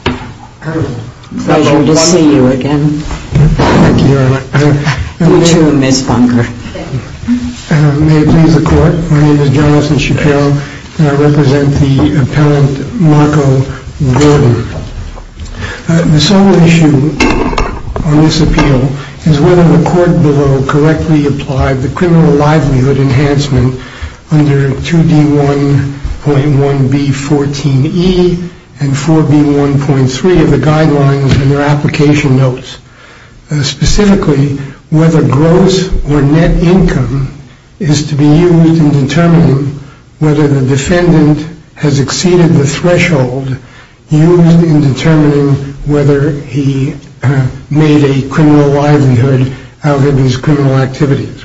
The sole issue on this appeal is whether the court below correctly applied the criminal the defendant has exceeded the threshold used in determining whether he made a criminal out of these criminal activities.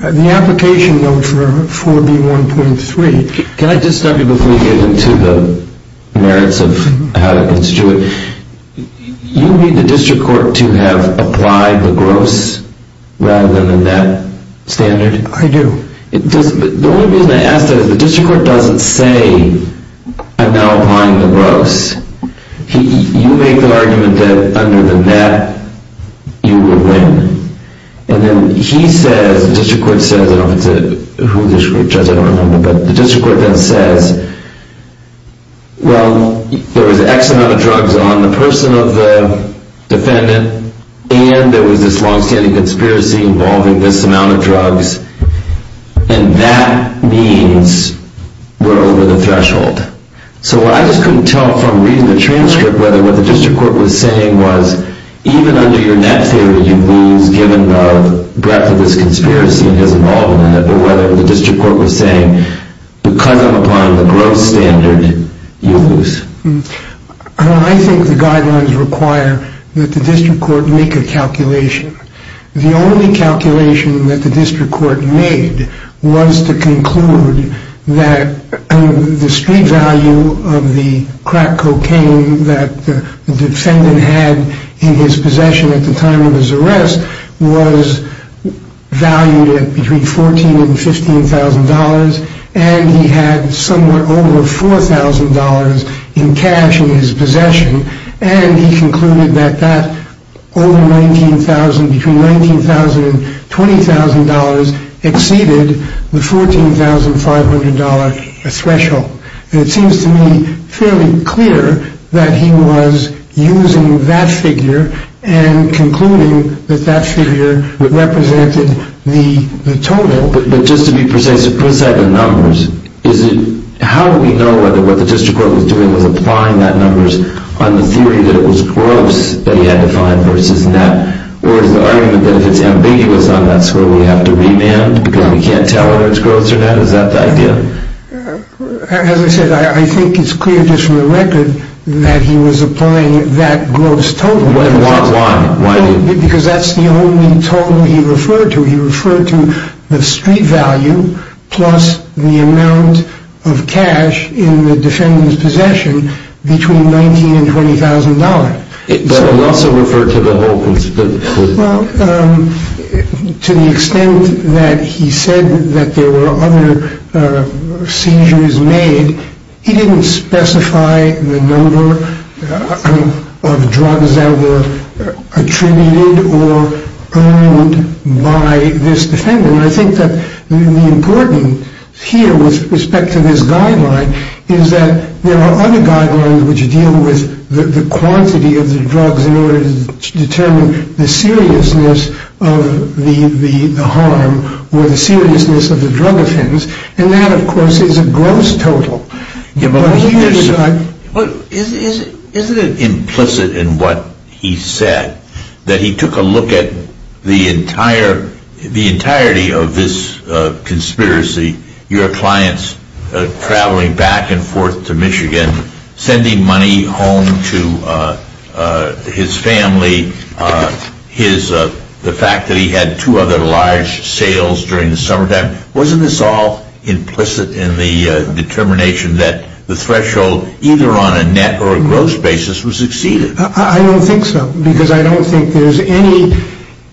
The application, though, for 4B1.3... Can I just stop you before you get into the merits of how to constitute it? You need the district court to have applied the gross rather than the net standard? I do. The only reason I ask that is the district court doesn't say, I'm not applying the gross. You make the argument that under the net, you will win. And then he says, the district court says, I don't know who the district court judge is, I don't remember, but the district court then says, well, there was X amount of drugs on the person of the defendant, and there was this long-standing conspiracy involving this amount of drugs, and that means we're over the threshold. So I just couldn't tell from reading the transcript whether what the district court was saying was, even under your net theory, you'd lose given the breadth of this conspiracy it has involved in it, or whether the district court was saying, because I'm applying the gross standard, you lose. I think the guidelines require that the district court make a calculation. The only calculation that the district court made was to conclude that the street value of the crack cocaine that the defendant had in his possession at the time of his arrest was valued at between $14,000 and $15,000, and he had somewhat over $4,000 in cash in his possession, and he concluded that that over $19,000, between $19,000 and $20,000 exceeded the $14,500 threshold. And it seems to me fairly clear that he was using that figure and concluding that that figure represented the total. But just to be precise, if Chris had the numbers, how would we know whether what the district court was doing was applying that numbers on the theory that it was gross that he had to find versus net, or is the argument that if it's ambiguous on that score, we have to remand because we can't tell whether it's gross or net? Is that the idea? As I said, I think it's clear just from the record that he was applying that gross total. Why? Because that's the only total he referred to. He referred to the street value plus the amount of cash in the defendant's possession between $19,000 and $20,000. But he also referred to the whole... Well, to the extent that he said that there were other seizures made, he didn't specify the number of drugs that were attributed or earned by this defendant. And I think that the important here with respect to this guideline is that there are other guidelines which deal with the quantity of the drugs in order to determine the seriousness of the harm or the seriousness of the drug offense. And that, of course, is a gross total. Isn't it implicit in what he said that he took a look at the entirety of this conspiracy, your clients traveling back and forth to Michigan, sending money home to his family, the fact that he had two other large sales during the summertime? Wasn't this all implicit in the determination that the threshold, either on a net or a gross basis, was exceeded? I don't think so, because I don't think there's any...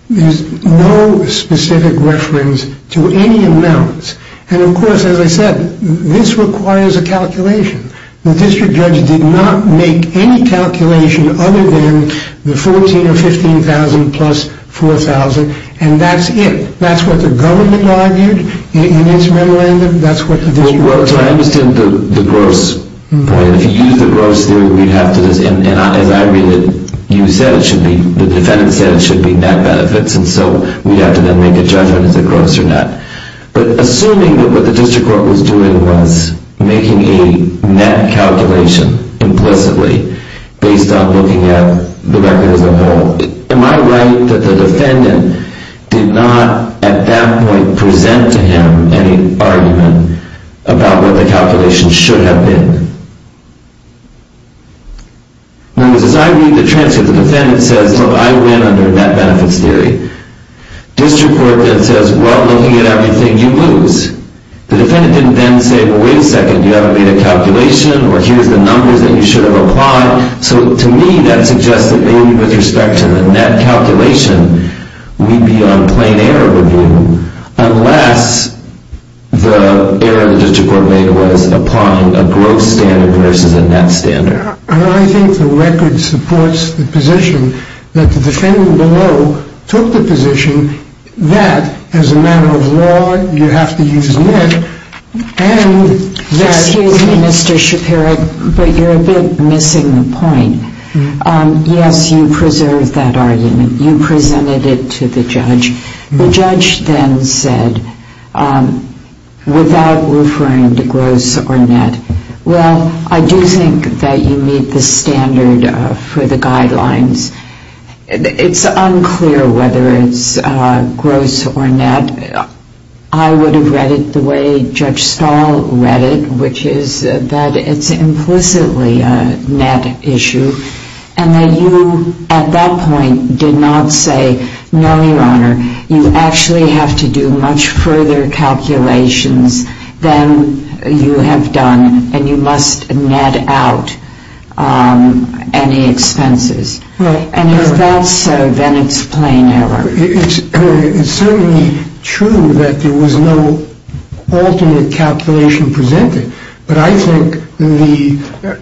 There's no specific reference to any amounts. And, of course, as I said, this requires a calculation. The district judge did not make any calculation other than the $14,000 or $15,000 plus $4,000, and that's it. That's what the government argued in its memorandum. That's what the district... Well, so I understand the gross point. If you use the gross theory, we'd have to... And as I read it, you said it should be... The defendant said it should be net benefits, and so we'd have to then make a judgment as to gross or not. But assuming that what the district court was doing was making a net calculation implicitly based on looking at the record as a whole, am I right that the defendant did not, at that point, present to him any argument about what the calculation should have been? Because as I read the transcript, the defendant says, look, I win under net benefits theory. District court then says, well, looking at everything, you lose. The defendant didn't then say, well, wait a second, you haven't made a calculation, or here's the numbers that you should have applied. So to me, that suggests that maybe with respect to the net calculation, we'd be on plain error review unless the error the district court made was applying a gross standard versus a net standard. I think the record supports the position that the defendant below took the position that as a matter of law, you have to use net, and that... Yes, you preserved that argument. You presented it to the judge. The judge then said, without referring to gross or net, well, I do think that you meet the standard for the guidelines. It's unclear whether it's gross or net. I would have read it the way Judge Stahl read it, which is that it's implicitly a net issue, and that you at that point did not say, no, Your Honor, you actually have to do much further calculations than you have done, and you must net out any expenses. And if that's so, then it's plain error. It's certainly true that there was no alternate calculation presented, but I think the...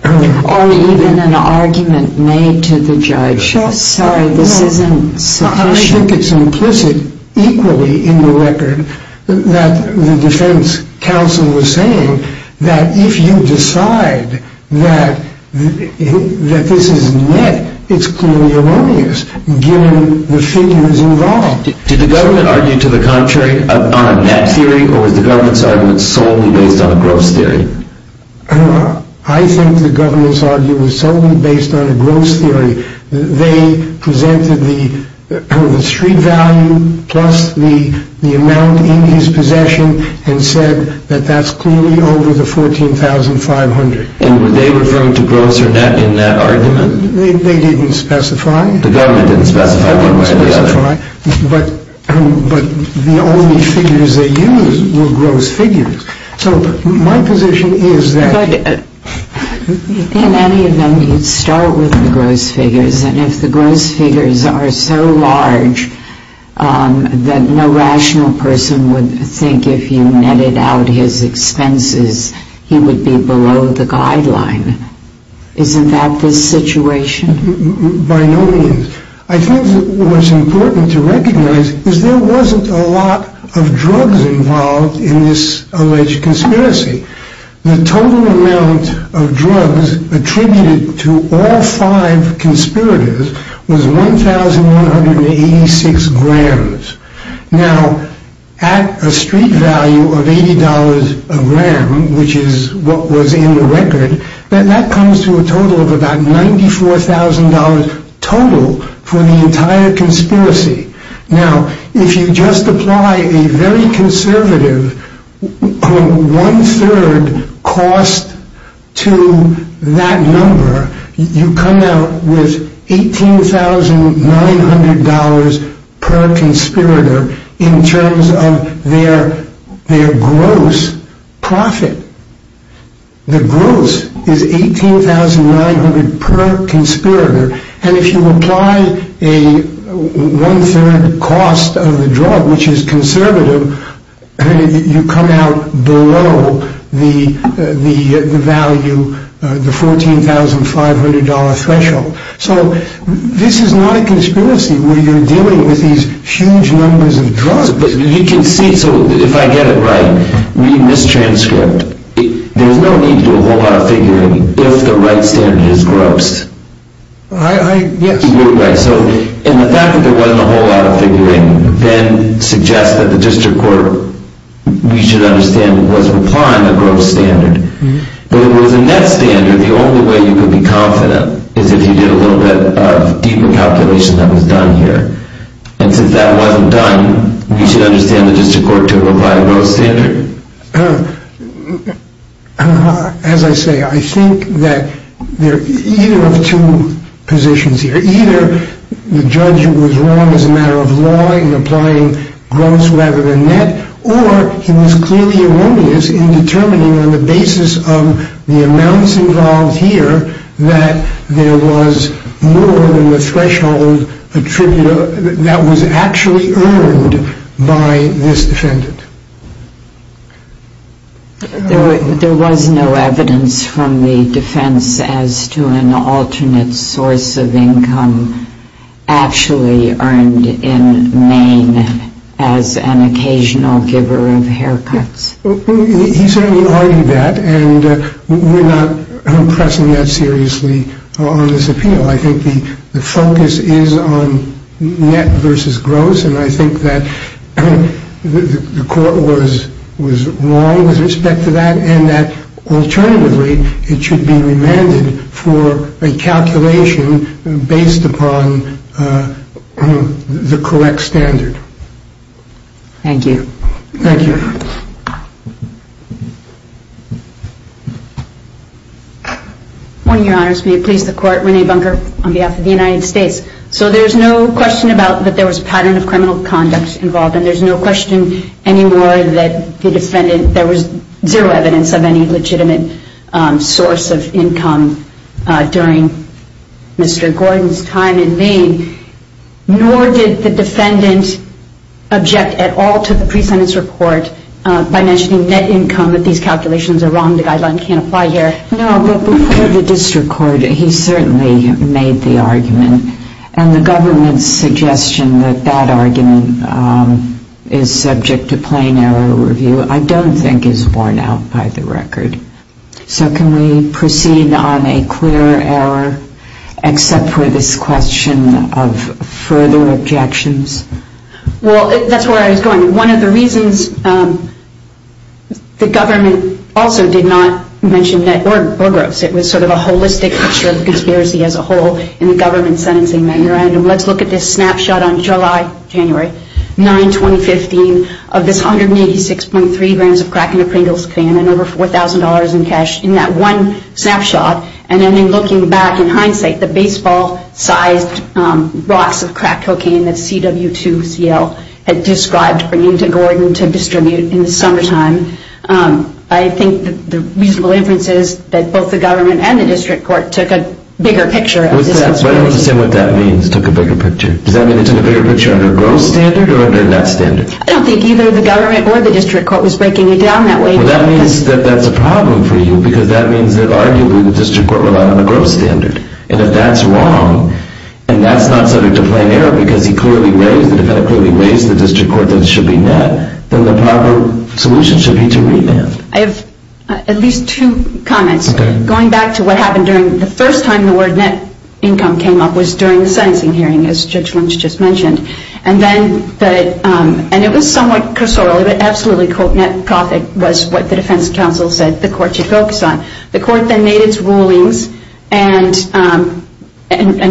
Or even an argument made to the judge, sorry, this isn't sufficient. I think it's implicit equally in the record that the defense counsel was saying that if you decide that this is net, it's clearly erroneous, given the figures involved. Did the government argue to the contrary on a net theory, or was the government's argument solely based on a gross theory? I think the government's argument was solely based on a gross theory. They presented the street value plus the amount in his possession and said that that's clearly over the $14,500. And were they referring to gross or net in that argument? They didn't specify. The government didn't specify. They didn't specify. But the only figures they used were gross figures. So my position is that... But in any event, you'd start with the gross figures. And if the gross figures are so large that no rational person would think if you netted out his expenses, he would be below the guideline, isn't that the situation? By no means. I think what's important to recognize is there wasn't a lot of drugs involved in this alleged conspiracy. The total amount of drugs attributed to all five conspirators was 1,186 grams. Now, at a street value of $80 a gram, which is what was in the record, that comes to a total of about $94,000 total for the entire conspiracy. Now, if you just apply a very conservative one-third cost to that number, you come out with $18,900 per conspirator in terms of their gross profit. The gross is $18,900 per conspirator. And if you apply a one-third cost of the drug, which is conservative, you come out below the value, the $14,500 threshold. So this is not a conspiracy where you're dealing with these huge numbers of drugs. But you can see, so if I get it right, read this transcript. There's no need to do a whole lot of figuring if the right standard is gross. Yes. You're right. So in the fact that there wasn't a whole lot of figuring then suggests that the district court, we should understand, was applying a gross standard. If it was a net standard, the only way you could be confident is if you did a little bit of deeper calculation that was done here. And since that wasn't done, we should understand the district court to apply a gross standard. As I say, I think that there are either of two positions here. Either the judge was wrong as a matter of law in applying gross rather than net, or he was clearly erroneous in determining on the basis of the amounts involved here that there was more than the threshold attribute that was actually earned by this defendant. There was no evidence from the defense as to an alternate source of income actually earned in Maine as an occasional giver of haircuts. He certainly argued that, and we're not pressing that seriously on this appeal. I think the focus is on net versus gross, and I think that the court was wrong with respect to that and that alternatively it should be remanded for a calculation based upon the correct standard. Thank you. Thank you. One of your honors, may it please the court. Renee Bunker on behalf of the United States. So there's no question about that there was a pattern of criminal conduct involved, and there's no question anymore that the defendant, there was zero evidence of any legitimate source of income during Mr. Gordon's time in Maine, nor did the defendant object at all to the pre-sentence report by mentioning net income, that these calculations are wrong, the guideline can't apply here. No, but before the district court, he certainly made the argument, and the government's suggestion that that argument is subject to plain error review I don't think is worn out by the record. So can we proceed on a clear error except for this question of further objections? Well, that's where I was going. One of the reasons the government also did not mention net or gross, it was sort of a holistic picture of conspiracy as a whole in the government sentencing memorandum. Let's look at this snapshot on July, January 9, 2015, of this 186.3 grams of crack in a Pringles can and over $4,000 in cash in that one snapshot, and then in looking back in hindsight, the baseball-sized rocks of crack cocaine that CW2CL had described bringing to Gordon to distribute in the summertime. I think the reasonable inference is that both the government and the district court took a bigger picture of this. I don't understand what that means, took a bigger picture. Does that mean they took a bigger picture under a gross standard or under a net standard? I don't think either the government or the district court was breaking it down that way. Well, that means that that's a problem for you, because that means that arguably the district court relied on a gross standard. And if that's wrong, and that's not subject to plain error because the defendant clearly raised the district court that it should be net, then the proper solution should be to remand. I have at least two comments. Going back to what happened during the first time the word net income came up was during the sentencing hearing, as Judge Lynch just mentioned. And it was somewhat cursorial. Absolutely, quote, net profit was what the defense counsel said the court should focus on. The court then made its rulings and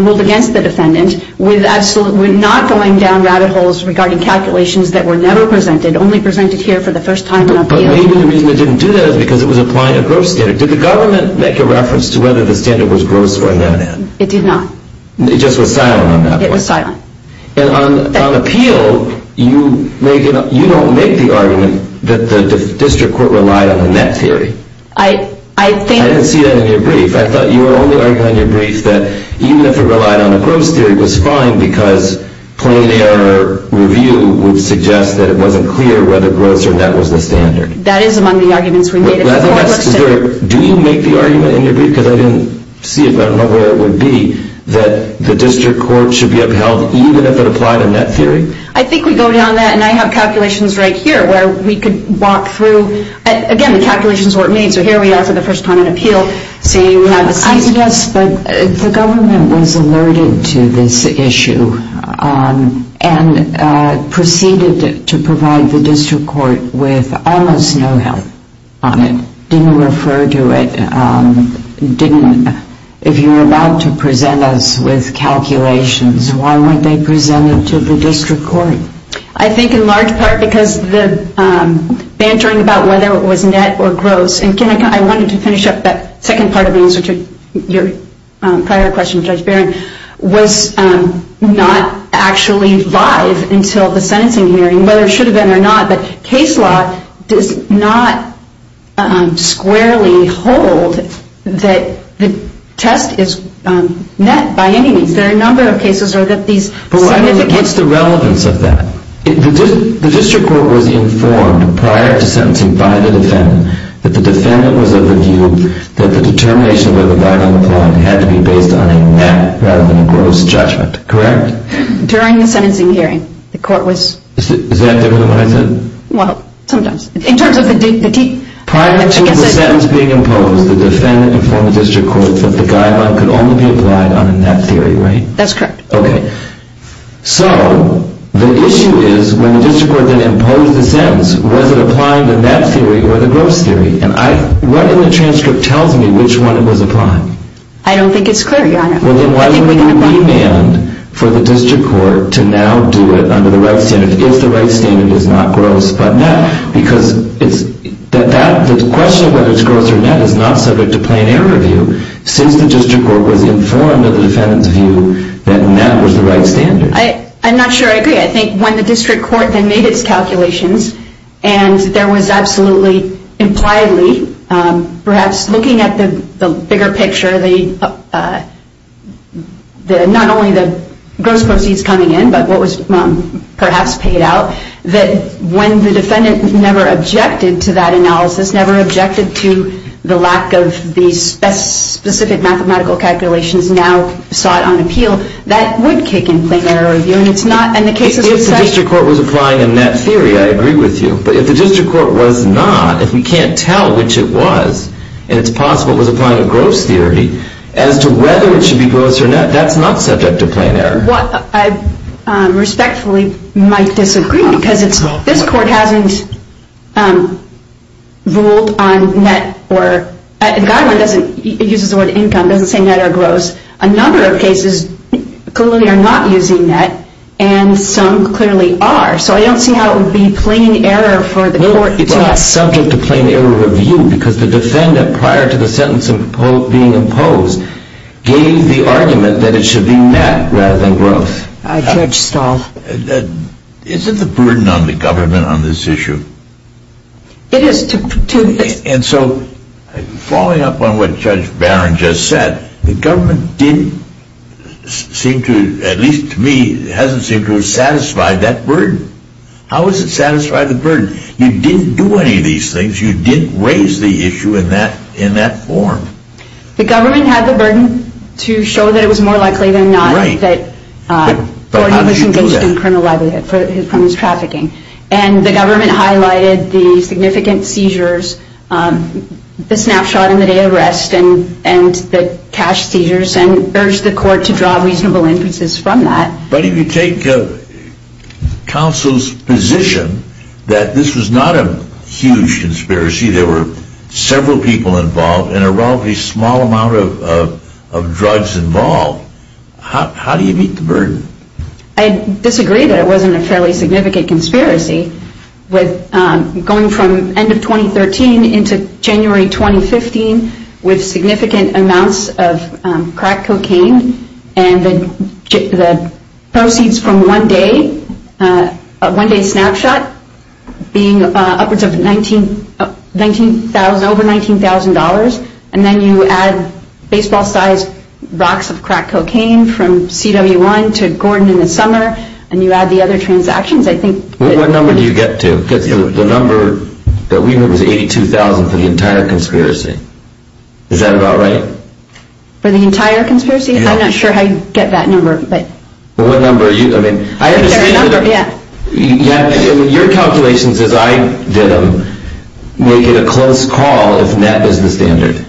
ruled against the defendant with not going down rabbit holes regarding calculations that were never presented, only presented here for the first time. But maybe the reason it didn't do that is because it was applying a gross standard. Did the government make a reference to whether the standard was gross or net? It did not. It just was silent on that point? It was silent. And on appeal, you don't make the argument that the district court relied on a net theory. I didn't see that in your brief. I thought you were only arguing on your brief that even if it relied on a gross theory, it was fine because plain error review would suggest that it wasn't clear whether gross or net was the standard. That is among the arguments we made. Do you make the argument in your brief? Because I didn't see it, but I don't know where it would be, that the district court should be upheld even if it applied a net theory? I think we go down that, and I have calculations right here where we could walk through. Again, the calculation is what it means. So here we are for the first time in appeal saying we have a standard. Yes, but the government was alerted to this issue and proceeded to provide the district court with almost no help on it, didn't refer to it, didn't. If you were allowed to present us with calculations, why weren't they presented to the district court? I think in large part because the bantering about whether it was net or gross, and I wanted to finish up that second part of the answer to your prior question, Judge Barron, was not actually live until the sentencing hearing, whether it should have been or not. But case law does not squarely hold that the test is net by any means. There are a number of cases where these significant... But why don't you get the relevance of that? The district court was informed prior to sentencing by the defendant that the defendant was of the view that the determination of whether the violence applied had to be based on a net rather than a gross judgment, correct? During the sentencing hearing, the court was... Is that different than what I said? Well, sometimes. In terms of the... Prior to the sentence being imposed, the defendant informed the district court that the guideline could only be applied on a net theory, right? That's correct. Okay. So the issue is when the district court then imposed the sentence, was it applied in that theory or the gross theory? And what in the transcript tells me which one it was applied? I don't think it's clear, Your Honor. Well, then why do we need a remand for the district court to now do it under the right standard if the right standard is not gross but net? Because the question of whether it's gross or net is not subject to plain error view since the district court was informed of the defendant's view that net was the right standard. I'm not sure I agree. I think when the district court then made its calculations and there was absolutely, impliedly, perhaps looking at the bigger picture, not only the gross proceeds coming in but what was perhaps paid out, that when the defendant never objected to that analysis, never objected to the lack of the specific mathematical calculations now sought on appeal, that would kick in plain error view. If the district court was applying a net theory, I agree with you. But if the district court was not, if we can't tell which it was, and it's possible it was applying a gross theory, as to whether it should be gross or net, that's not subject to plain error. Well, I respectfully might disagree because this court hasn't ruled on net or, the guideline doesn't, it uses the word income, doesn't say net or gross. A number of cases clearly are not using net and some clearly are. So I don't see how it would be plain error for the court to ask. It's not subject to plain error review because the defendant, prior to the sentence being imposed, gave the argument that it should be net rather than gross. Judge Stahl. Isn't the burden on the government on this issue? It is. And so, following up on what Judge Barron just said, the government didn't seem to, at least to me, hasn't seemed to have satisfied that burden. How has it satisfied the burden? You didn't do any of these things, you didn't raise the issue in that form. The government had the burden to show that it was more likely than not that Gordon was engaged in criminal libel from his trafficking. And the government highlighted the significant seizures, the snapshot in the day of arrest, and the cash seizures and urged the court to draw reasonable inferences from that. But if you take counsel's position that this was not a huge conspiracy, there were several people involved and a relatively small amount of drugs involved, how do you meet the burden? I disagree that it wasn't a fairly significant conspiracy. Going from end of 2013 into January 2015 with significant amounts of crack cocaine and the proceeds from one day snapshot being upwards of $19,000, over $19,000, and then you add baseball-sized rocks of crack cocaine from CW1 to Gordon in the summer and you add the other transactions, I think... Well, what number do you get to? Because the number that we heard was $82,000 for the entire conspiracy. Is that about right? For the entire conspiracy? I'm not sure how you get that number, but... Well, what number are you... I mean, I understand that... Your calculations, as I did them, make it a close call if net is the standard.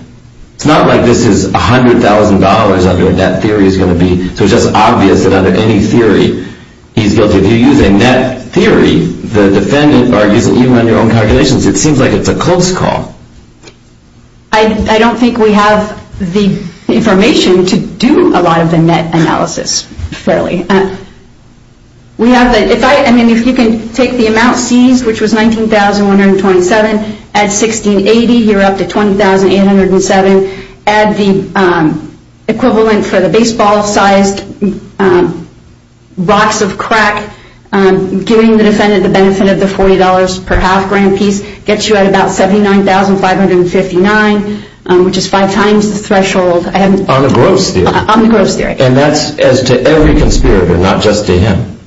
It's not like this is $100,000 under a net theory is going to be. So it's just obvious that under any theory he's guilty. If you use a net theory, the defendant argues that even on your own calculations, it seems like it's a close call. I don't think we have the information to do a lot of the net analysis, really. We have the... I mean, if you can take the amount seized, which was $19,127, add $1680, you're up to $20,807, add the equivalent for the baseball-sized blocks of crack, giving the defendant the benefit of the $40 per half grand piece, gets you at about $79,559, which is five times the threshold. On the gross theory? On the gross theory. And that's as to every conspirator, not just to him?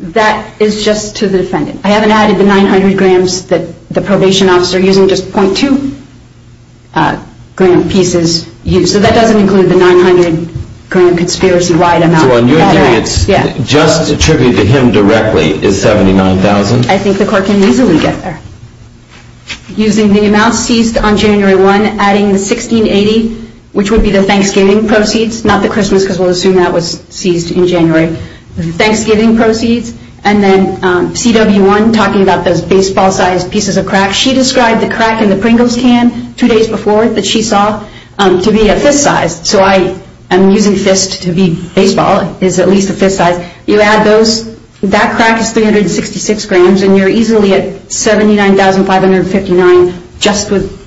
That is just to the defendant. I haven't added the 900 grams that the probation officer, using just .2-gram pieces, used. So that doesn't include the 900-gram conspiracy-wide amount. So on your theory, it's just attributed to him directly is $79,000? I think the court can easily get there. Using the amount seized on January 1, adding the $1680, which would be the Thanksgiving proceeds, not the Christmas, because we'll assume that was seized in January, Thanksgiving proceeds, and then CW1 talking about those baseball-sized pieces of crack. She described the crack in the Pringles can two days before that she saw to be a fist size. So I am using fist to be baseball is at least a fist size. You add those, that crack is 366 grams, and you're easily at $79,559 just with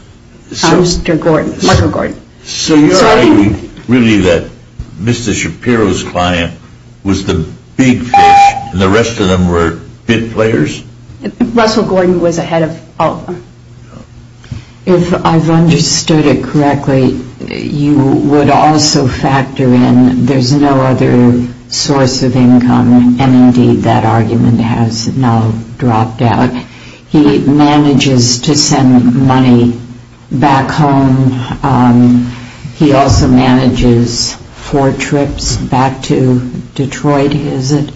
Mr. Gordon, Marco Gordon. So you're arguing really that Mr. Shapiro's client was the big fish, and the rest of them were bid players? Russell Gordon was ahead of all of them. If I've understood it correctly, you would also factor in there's no other source of income, and indeed that argument has now dropped out. He manages to send money back home. He also manages four trips back to Detroit, is it?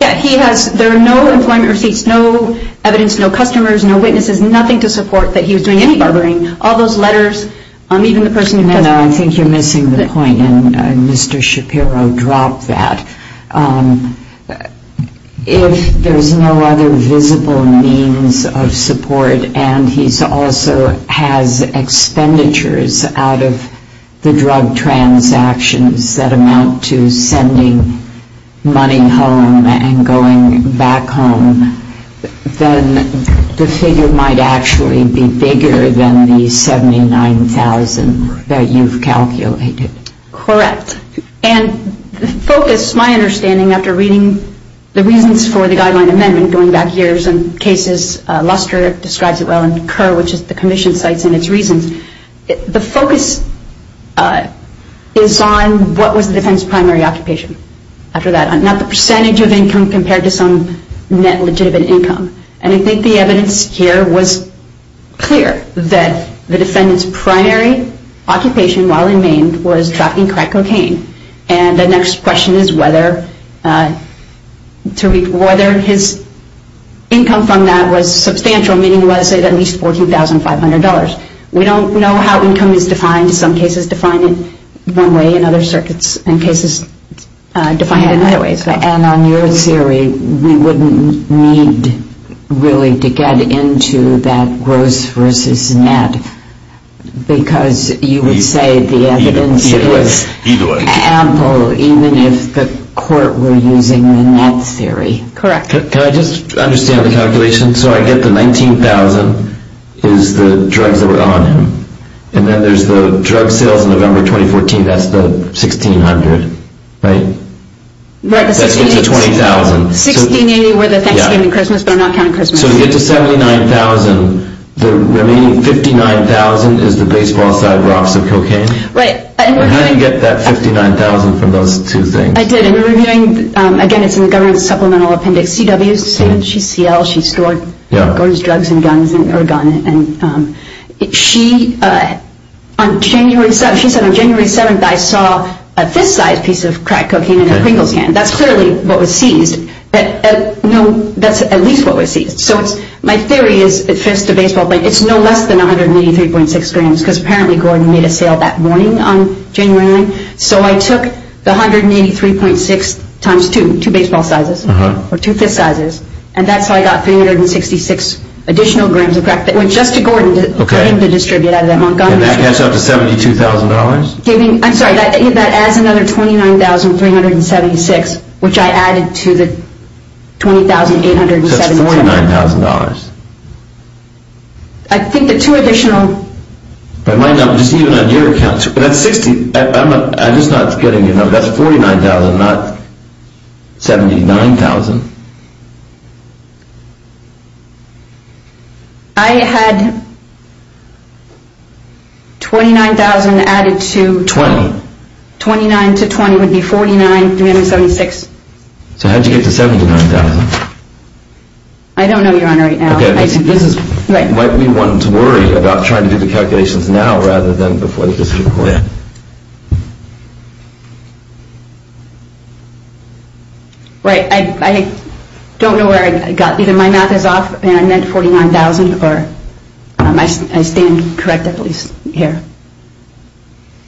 Yeah, he has. There are no employment receipts, no evidence, no customers, no witnesses, nothing to support that he was doing any barbering. All those letters, even the person who does it. I think you're missing the point, and Mr. Shapiro dropped that. If there's no other visible means of support, and he also has expenditures out of the drug transactions that amount to sending money home and going back home, then the figure might actually be bigger than the $79,000 that you've calculated. Correct. And the focus, my understanding after reading the reasons for the guideline amendment going back years and cases Luster describes it well and Kerr, which is the commission, cites in its reasons, the focus is on what was the defendant's primary occupation after that, not the percentage of income compared to some net legitimate income. And I think the evidence here was clear that the defendant's primary occupation while in Maine was trafficking crack cocaine. And the next question is whether his income from that was substantial, meaning was it at least $14,500. We don't know how income is defined. Some cases define it one way and other circuits and cases define it in other ways. And on your theory, we wouldn't need really to get into that gross versus net because you would say the evidence is ample even if the court were using the net theory. Correct. Can I just understand the calculation? So I get the $19,000 is the drugs that were on him. And then there's the drug sales in November 2014. That's the $1,600, right? That's $20,000. $1,680 were the Thanksgiving and Christmas, but I'm not counting Christmas. So to get to $79,000, the remaining $59,000 is the baseball-sized drops of cocaine? Right. How did you get that $59,000 from those two things? I did. And we were doing, again, it's in the government supplemental appendix, CWC, CL, she stored drugs and guns. And she said on January 7th, I saw a fist-sized piece of crack cocaine in her crinkle scan. That's clearly what was seized. No, that's at least what was seized. So my theory is the fist, the baseball, it's no less than 183.6 grams because apparently Gordon made a sale that morning on January 9th. So I took the 183.6 times two, two baseball sizes, or two fist sizes, and that's how I got 366 additional grams of crack that went just to Gordon for him to distribute out of that Montgomery. And that adds up to $72,000? I'm sorry, that adds another $29,376, which I added to the $20,872. So that's $49,000. I think the two additional. But my number, just even on your account, that's 60, I'm just not getting your number. That's $49,000, not $79,000. I had $29,000 added to. $20,000. $29,000 to $20,000 would be $49,376. So how did you get to $79,000? I don't know, Your Honor, right now. Okay, this is why we want to worry about trying to do the calculations now rather than before the dispute court. I don't know where I got. Either my math is off and I meant $49,000, or I stand corrected at least here.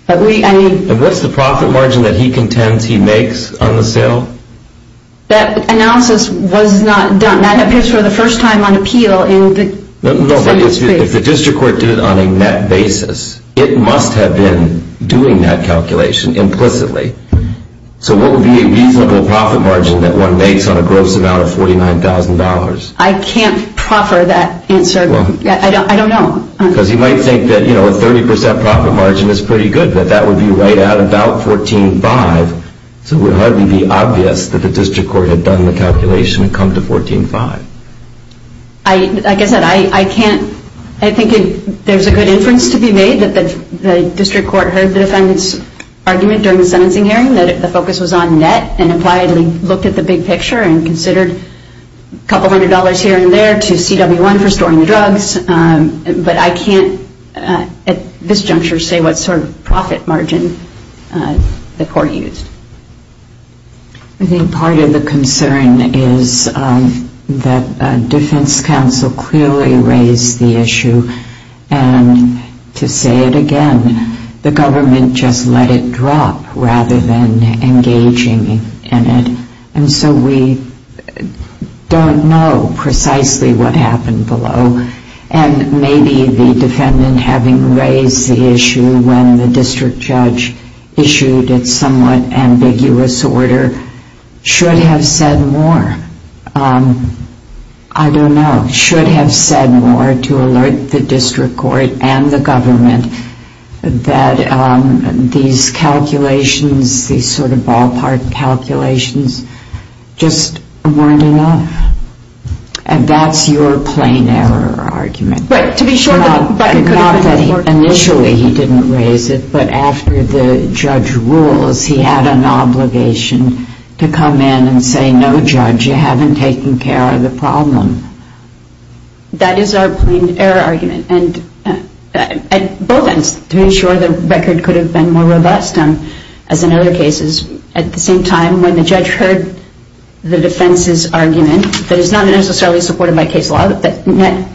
And what's the profit margin that he contends he makes on the sale? That analysis was not done. That appears for the first time on appeal in the dispute case. No, but if the district court did it on a net basis, it must have been doing that calculation implicitly. So what would be a reasonable profit margin that one makes on a gross amount of $49,000? I can't proffer that answer. I don't know. Because you might think that, you know, a 30% profit margin is pretty good, but that would be right at about $14,500. So it would hardly be obvious that the district court had done the calculation and come to $14,500. Like I said, I think there's a good inference to be made that the district court heard the defendant's argument during the sentencing hearing that the focus was on net and appliedly looked at the big picture and considered a couple hundred dollars here and there to CW1 for storing the drugs. But I can't at this juncture say what sort of profit margin the court used. I think part of the concern is that defense counsel clearly raised the issue and to say it again, the government just let it drop rather than engaging in it. And so we don't know precisely what happened below. And maybe the defendant having raised the issue when the district judge issued it somewhat of an ambiguous order should have said more. I don't know. Should have said more to alert the district court and the government that these calculations, these sort of ballpark calculations just weren't enough. And that's your plain error argument. Not that initially he didn't raise it, but after the judge rules, he had an obligation to come in and say, no, judge, you haven't taken care of the problem. That is our plain error argument. And at both ends, to ensure the record could have been more robust, as in other cases at the same time when the judge heard the defense's argument that is not necessarily supported by case law, that net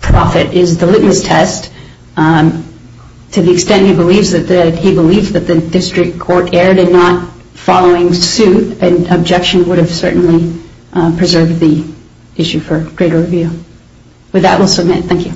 profit is the litmus test, to the extent he believes that the district court erred in not following suit, an objection would have certainly preserved the issue for greater review. With that, we'll submit. Thank you.